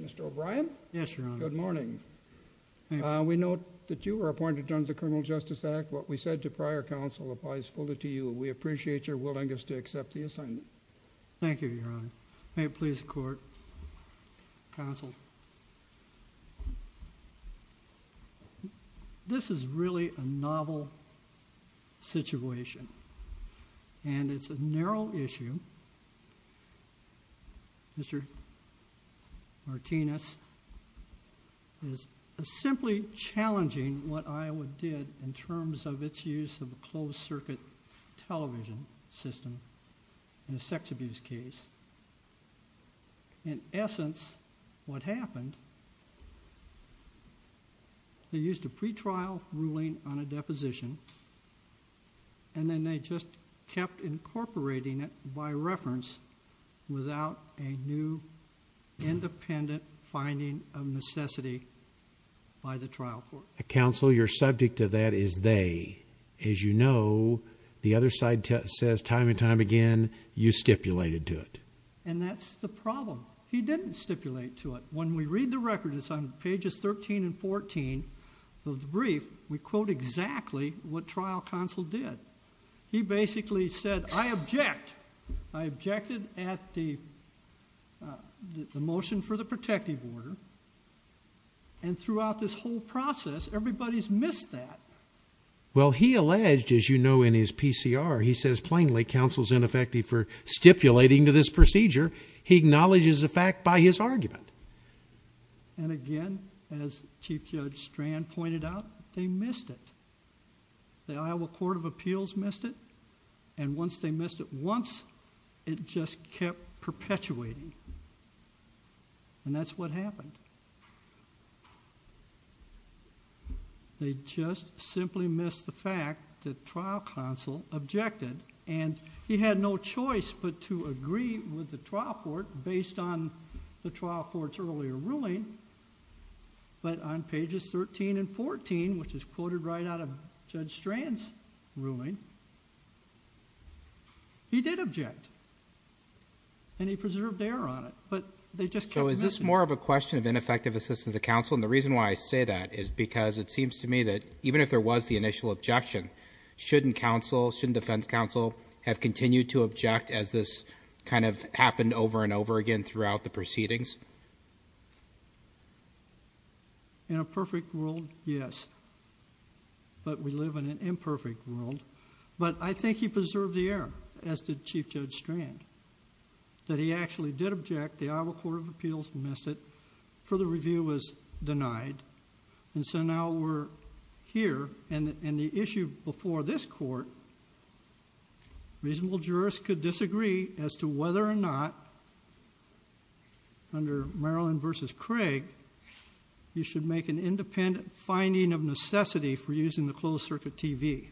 Mr. O'Brien? Yes, Your Honor. Good morning. We note that you were appointed under the Criminal Justice Act. What we said to prior counsel applies fully to you. We appreciate your willingness to accept the assignment. Thank you, Your Honor. May it please the court. Counsel. This is really a novel situation and it's a narrow issue. Mr. Martinez is simply challenging what Iowa did in terms of its use of a closed circuit television system in a sex abuse case. In essence, what happened, they used a pretrial ruling on a deposition and then they just kept incorporating it by reference without a new independent finding of necessity by the trial court. Counsel, you're subject to that as they. As you know, the other side says time and time again, you stipulated to it. And that's the problem. He didn't stipulate to it. When we read the record, it's on pages 13 and 14 of the brief, we quote exactly what trial counsel did. He basically said, I object. I objected at the motion for the protective order. And throughout this whole process, everybody's missed that. Well, he alleged, as you know, in his PCR, he says plainly, counsel's ineffective for stipulating to this procedure. He acknowledges the fact by his argument. And again, as Chief Judge Strand pointed out, they missed it. The Iowa Court of Appeals missed it. And once they missed it, once it just kept perpetuating. And that's what happened. They just simply missed the fact that trial counsel objected. And he had no choice but to agree with the trial court based on the trial court's earlier ruling. But on pages 13 and 14, which is quoted right out of Judge Strand's ruling, he did object. And he preserved air on it. But they just kept missing it. So is this more of a question of ineffective assistance of counsel? And the reason why I say that is because it seems to me that even if there was the initial objection, shouldn't counsel, shouldn't defense counsel have continued to object as this kind of happened over and over again throughout the proceedings? In a perfect world, yes. But we live in an imperfect world. But I think he preserved the air, as did Chief Judge Strand, that he actually did object. The Iowa Court of Appeals missed it. Further review was denied. And so now we're here. And the issue before this court, reasonable jurists could disagree as to whether or not, under Maryland v. Craig, you should make an independent finding of necessity for using the closed-circuit TV.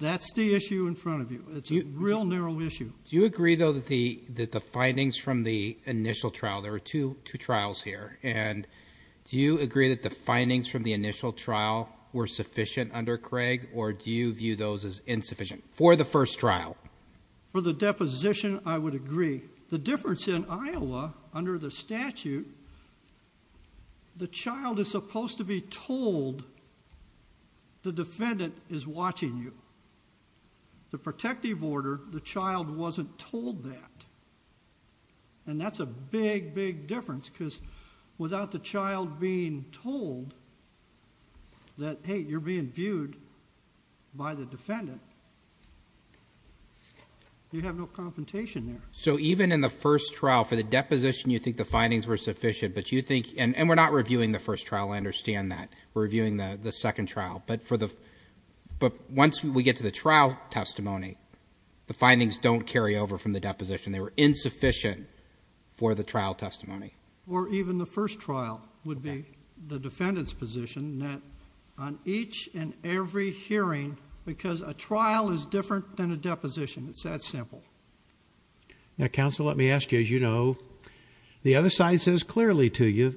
That's the issue in front of you. It's a real narrow issue. Do you agree, though, that the findings from the initial trial, there were two trials here, and do you agree that the findings from the initial trial were sufficient under Craig? Or do you view those as insufficient for the first trial? For the deposition, I would agree. The difference in Iowa, under the statute, the child is supposed to be told the defendant is watching you. The protective order, the child wasn't told that. And that's a big, big difference, because without the child being told that, hey, you're being viewed by the defendant, you have no confrontation there. So even in the first trial, for the deposition, you think the findings were sufficient, but you think, and we're not reviewing the first trial, I understand that. We're reviewing the second trial. But once we get to the trial testimony, the findings don't carry over from the deposition. They were insufficient for the trial testimony. Or even the first trial would be the defendant's position, that on each and every hearing, because a trial is different than a deposition. It's that simple. Now, counsel, let me ask you, as you know, the other side says clearly to you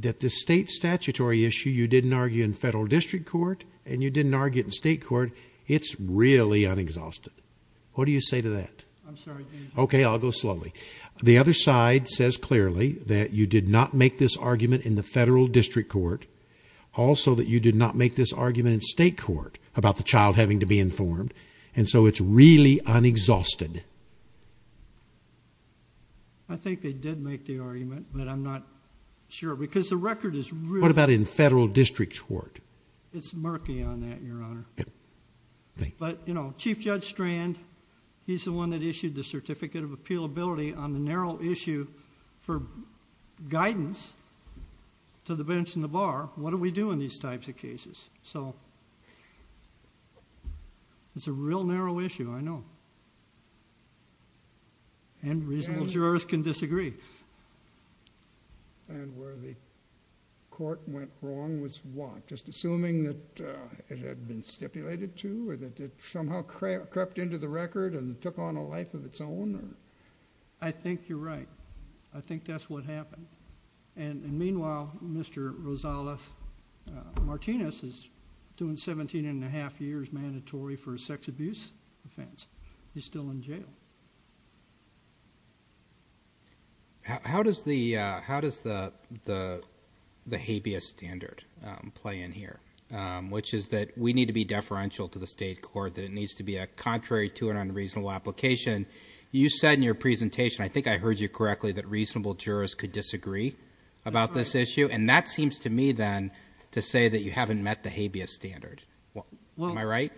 that this state statutory issue, you didn't argue in federal district court, and you didn't argue it in state court. It's really unexhausted. What do you say to that? I'm sorry, Judge. Okay, I'll go slowly. The other side says clearly that you did not make this argument in the federal district court. Also, that you did not make this argument in state court about the child having to be informed. And so it's really unexhausted. I think they did make the argument, but I'm not sure, because the record is really— What about in federal district court? It's murky on that, Your Honor. But, you know, Chief Judge Strand, he's the one that issued the certificate of appealability on the narrow issue for guidance to the bench and the bar. What do we do in these types of cases? So it's a real narrow issue, I know. And reasonable jurors can disagree. And where the court went wrong was what? Just assuming that it had been stipulated to or that it somehow crept into the record and took on a life of its own? I think you're right. I think that's what happened. And meanwhile, Mr. Rosales-Martinez is doing 17 and a half years mandatory for a sex abuse offense. He's still in jail. How does the habeas standard play in here? Which is that we need to be deferential to the state court, that it needs to be a contrary to an unreasonable application. You said in your presentation, I think I heard you correctly, that reasonable jurors could disagree about this issue. And that seems to me, then, to say that you haven't met the habeas standard. Am I right?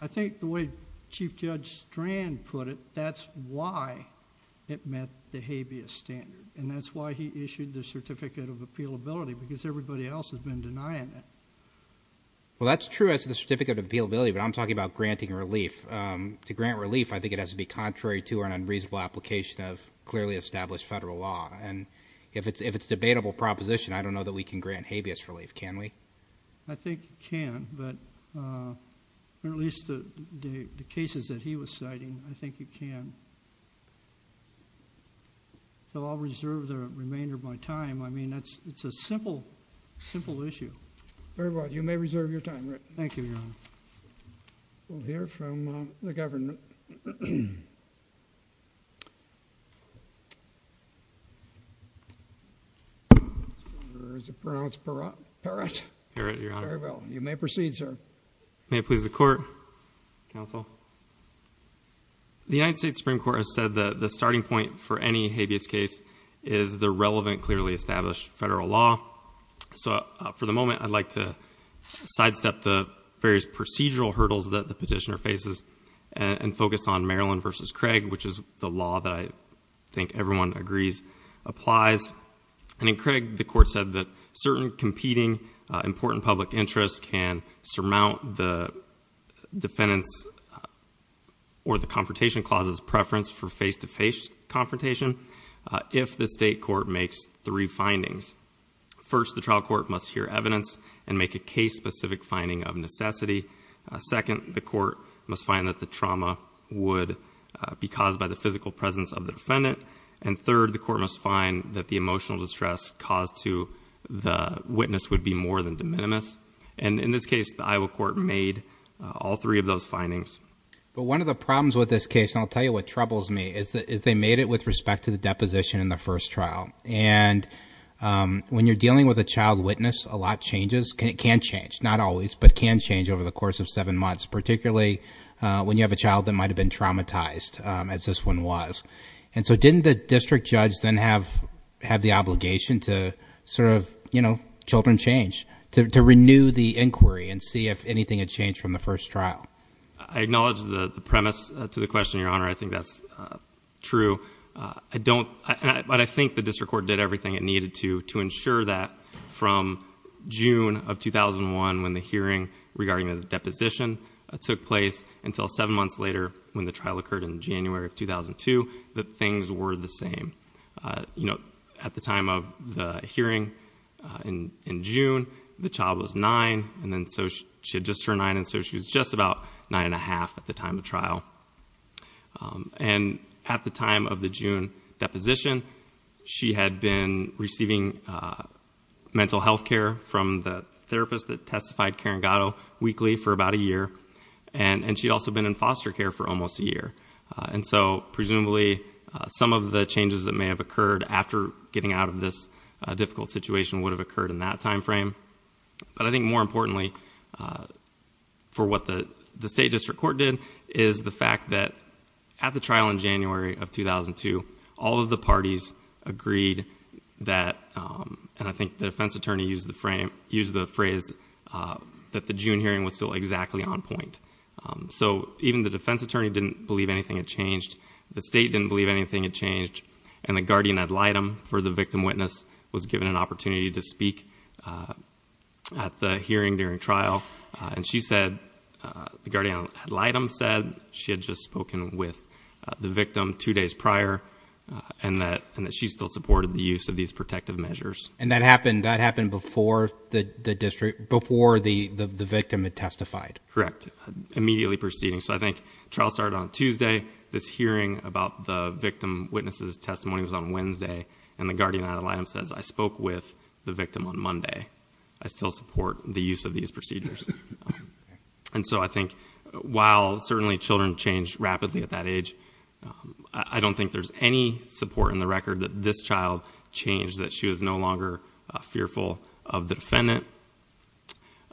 I think the way Chief Judge Strand put it, that's why it met the habeas standard. And that's why he issued the certificate of appealability, because everybody else has been denying it. Well, that's true as the certificate of appealability, but I'm talking about granting relief. To grant relief, I think it has to be contrary to an unreasonable application of clearly established federal law. And if it's a debatable proposition, I don't know that we can grant habeas relief. Can we? I think you can. But in at least the cases that he was citing, I think you can. So I'll reserve the remainder of my time. I mean, it's a simple, simple issue. Very well. You may reserve your time, Rick. Thank you, Your Honor. We'll hear from the Governor. Is it pronounced Peratt? Peratt, Your Honor. Very well. You may proceed, sir. May it please the Court, Counsel. The United States Supreme Court has said that the starting point for any habeas case is the relevant, clearly established federal law. So for the procedural hurdles that the petitioner faces and focus on Maryland v. Craig, which is the law that I think everyone agrees applies. And in Craig, the Court said that certain competing important public interests can surmount the defendant's or the confrontation clause's preference for face-to-face confrontation if the state court makes three findings. First, the trial court must hear evidence and make a case-specific finding of necessity. Second, the court must find that the trauma would be caused by the physical presence of the defendant. And third, the court must find that the emotional distress caused to the witness would be more than de minimis. And in this case, the Iowa court made all three of those findings. But one of the problems with this case, and I'll tell you what troubles me, is they made it with respect to the deposition in the first trial. And when you're dealing with a child witness, a lot changes. It can change, not always, but can change over the course of seven months, particularly when you have a child that might have been traumatized, as this one was. And so didn't the district judge then have the obligation to sort of, you know, children change, to renew the inquiry and see if anything had changed from the first trial? I acknowledge the premise to the question, Your Honor. I think that's true. I don't, but I think the district court did everything it needed to, to ensure that from June of 2001, when the hearing regarding the deposition took place, until seven months later, when the trial occurred in January of 2002, that things were the same. You know, at the time of the hearing in June, the child was nine, and then so she had just turned nine, and so she was just about nine and a half at the time of trial. And at the time of the June deposition, she had been receiving mental health care from the therapist that testified, Karen Gatto, weekly for about a year, and she'd also been in foster care for almost a year. And so presumably, some of the changes that may have occurred after getting out of this difficult situation would have occurred in that time frame. But I think more importantly, for what the state district court did, is the fact that at the trial in January of 2002, all of the parties agreed that, and I think the defense attorney used the phrase, that the June hearing was still exactly on point. So even the defense attorney didn't believe anything had changed, the state didn't believe anything had changed, and the guardian ad litem for the victim witness was at the hearing during trial, and she said, the guardian ad litem said, she had just spoken with the victim two days prior, and that she still supported the use of these protective measures. And that happened before the district, before the victim had testified? Correct. Immediately preceding. So I think the trial started on Tuesday, this hearing about the victim witness's testimony was on Wednesday, and the guardian ad litem says, I spoke with the victim on Monday. I still support the use of these procedures. And so I think, while certainly children change rapidly at that age, I don't think there's any support in the record that this child changed, that she was no longer fearful of the defendant.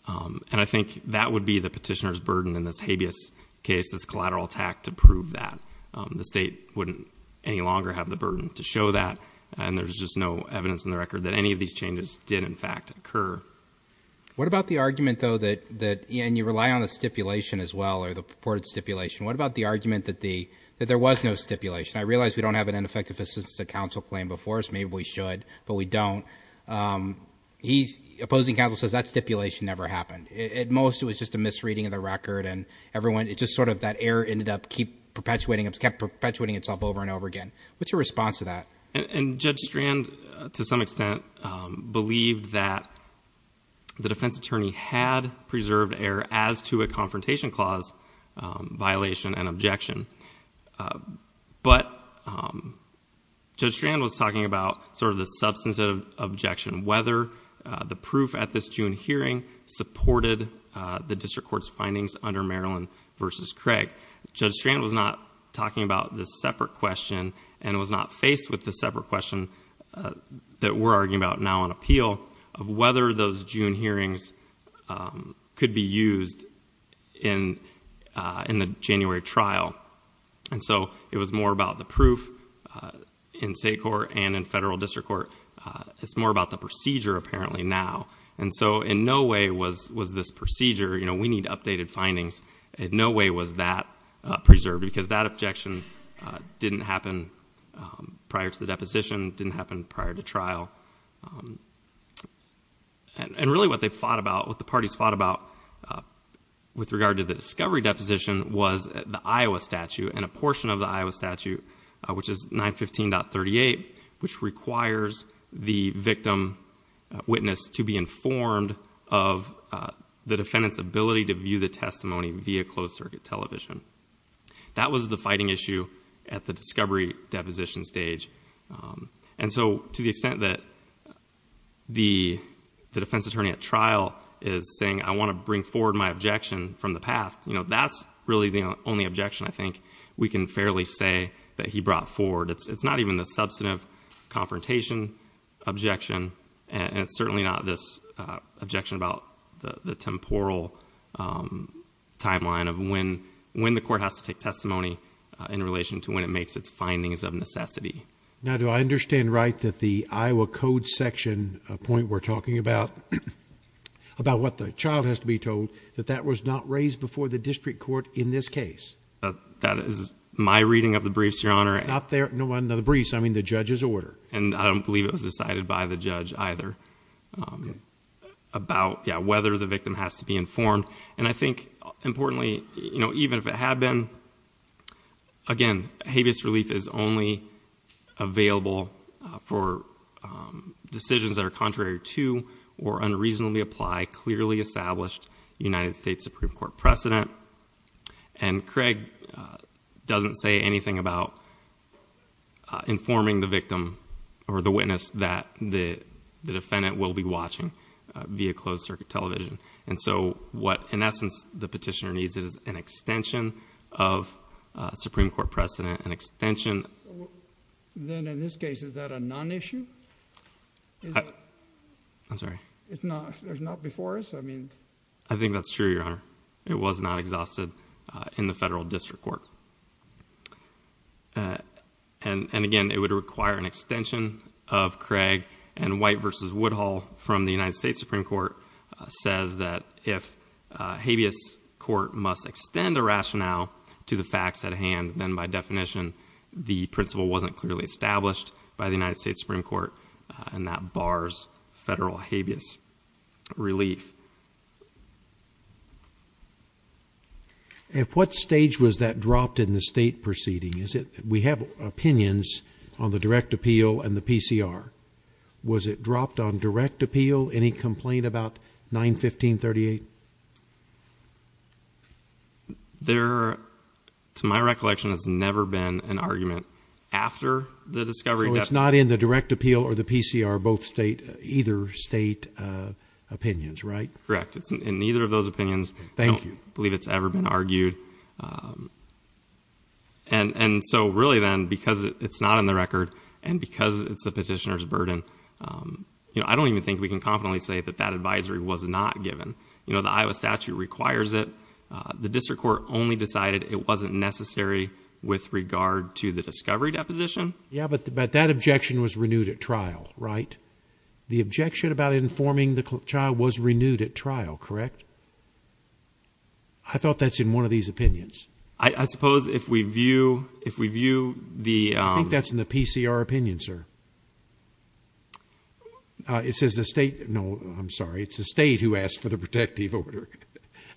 And I think that would be the petitioner's burden in this habeas case, this collateral attack, to prove that. The state wouldn't any longer have the burden to show that, and there's just no evidence in the record that any of these changes did, in fact, occur. What about the argument, though, that, and you rely on the stipulation as well, or the purported stipulation, what about the argument that there was no stipulation? I realize we don't have an ineffective assistance to counsel claim before us, maybe we should, but we don't. The opposing counsel says that stipulation never happened. At most, it was just a misreading of the record, and everyone, it just sort of, that error ended up perpetuating, kept perpetuating itself over and over again. What's your response to that? And Judge Strand, to some extent, believed that the defense attorney had preserved error as to a confrontation clause violation and objection. But Judge Strand was talking about sort of the substance of objection, whether the proof at this June hearing supported the district court's findings under Maryland v. Craig. Judge Strand was not talking about this separate question, and was not faced with the separate question that we're arguing about now on appeal, of whether those June hearings could be used in the January trial. And so, it was more about the proof in state court and in federal district court. It's more about the procedure, apparently, now. And so, in no way was this procedure, you know, we need updated findings. In no way was that preserved, because that objection didn't happen prior to the deposition, didn't happen prior to trial. And really, what they fought about, what the parties fought about, with regard to the discovery deposition, was the Iowa statute, and a portion of the Iowa statute, which is 915.38, which requires the victim witness to be informed of the defendant's ability to view the testimony via closed circuit television. That was the fighting issue at the discovery deposition stage. And so, to the extent that the defense attorney at trial is saying, I want to bring forward my objection from the past, you know, that's really the only objection I think we can fairly say that he brought forward. It's not even the substantive confrontation objection, and it's certainly not this objection about the temporal timeline of when the court has to take testimony in relation to when it makes its findings of necessity. Now, do I understand right that the Iowa code section point we're talking about, about what the child has to be told, that that was not raised before the district court in this case? That is my reading of the briefs, Your Honor. Not the briefs, I mean the judge's order. And I don't believe it was decided by the judge either about whether the victim has to be informed. And I think, importantly, even if it had been, again, habeas relief is only available for decisions that are contrary to or unreasonably apply clearly established United States Supreme Court precedent. And Craig doesn't say anything about informing the victim or the witness that the defendant will be watching via closed circuit television. And so what, in essence, the petitioner needs is an extension of Supreme Court precedent, an extension... Then in this case, is that a non-issue? I'm sorry? There's not before us? I mean... I think that's true, Your Honor. It was not exhausted in the federal district court. And again, it would require an extension of Craig. And White v. Woodhull from the United States Supreme Court says that if habeas court must extend a rationale to the facts at hand, then by definition the principle wasn't clearly established by the United States Supreme Court. And that bars federal habeas relief. At what stage was that dropped in the state proceeding? We have opinions on the direct appeal and the PCR. Was it dropped on direct appeal? Any complaint about 915.38? There, to my recollection, has never been an argument after the discovery... After the PCR, both state... either state opinions, right? Correct. In neither of those opinions... Thank you. I don't believe it's ever been argued. And so really then, because it's not in the record and because it's the petitioner's burden, I don't even think we can confidently say that that advisory was not given. You know, the Iowa statute requires it. The district court only decided it wasn't necessary with regard to the discovery deposition. Yeah, but that objection was renewed at trial, right? The objection about informing the child was renewed at trial, correct? I thought that's in one of these opinions. I suppose if we view the... I think that's in the PCR opinion, sir. It says the state... no, I'm sorry. It's the state who asked for the protective order,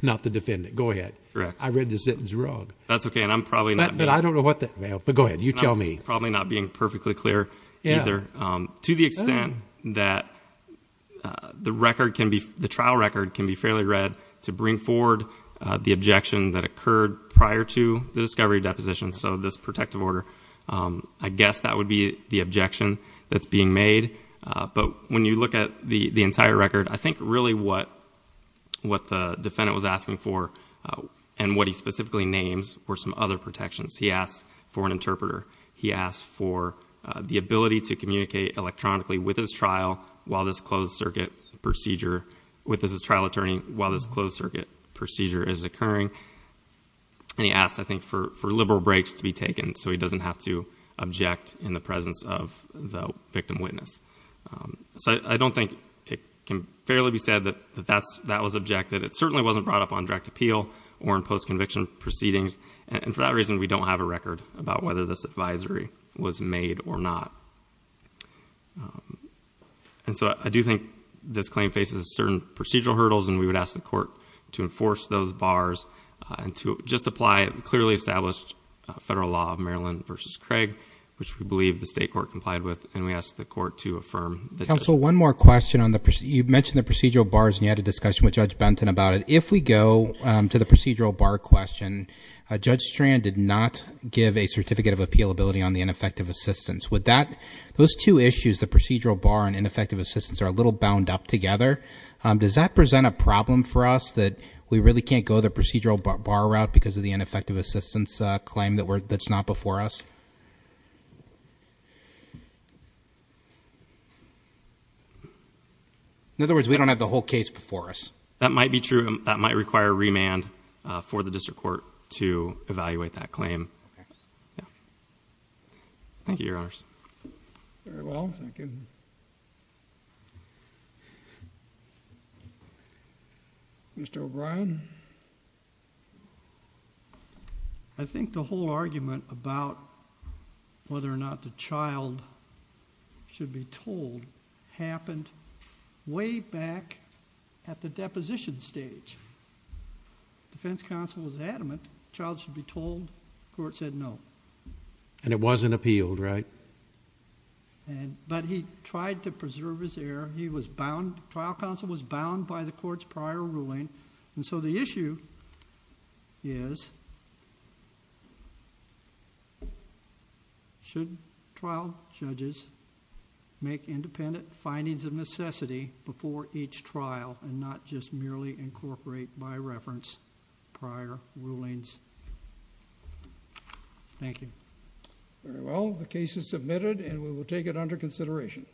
not the defendant. Go ahead. Correct. I read the sentence wrong. But I don't know what the... But go ahead. You tell me. Probably not being perfectly clear either. To the extent that the record can be... the trial record can be fairly read to bring forward the objection that occurred prior to the discovery deposition, so this protective order, I guess that would be the objection that's being made. But when you look at the entire record, I think really what the defendant was asking for and what he specifically names were some other protections He asked for an interpreter. He asked for the ability to communicate electronically with his trial while this closed circuit procedure... with his trial attorney while this closed circuit procedure is occurring. And he asked, I think, for liberal breaks to be taken so he doesn't have to object in the presence of the victim witness. So I don't think it can fairly be said that that was objected. It certainly wasn't brought up on direct appeal or in postconviction proceedings. And for that reason, we don't have a record about whether this advisory was made or not. And so I do think this claim faces certain procedural hurdles and we would ask the court to enforce those bars and to just apply clearly established federal law of Maryland v. Craig, which we believe the state court complied with, and we ask the court to affirm... Counsel, one more question on the... you mentioned the procedural bars and you had a discussion with Judge Benton about it. If we go to the procedural bar question, Judge Strand did not give a certificate of appealability on the ineffective assistance. Would that... those two issues, the procedural bar and ineffective assistance, are a little bound up together. Does that present a problem for us that we really can't go the procedural bar route because of the ineffective assistance claim that's not before us? In other words, we don't have the whole case before us. That might be true. That might require remand for the district court to evaluate that claim. Thank you, Your Honors. Very well. Thank you. Mr. O'Brien. I think the whole argument about whether or not the child should be told happened way back at the deposition stage. The defense counsel was adamant the child should be told. The court said no. And it wasn't appealed, right? But he tried to preserve his air. He was bound. The trial counsel was bound by the court's prior ruling. And so the issue is, should trial judges make independent findings of necessity before each trial and not just merely incorporate by reference prior rulings? Thank you. Very well. The case is submitted and we will take it under consideration. Thank you.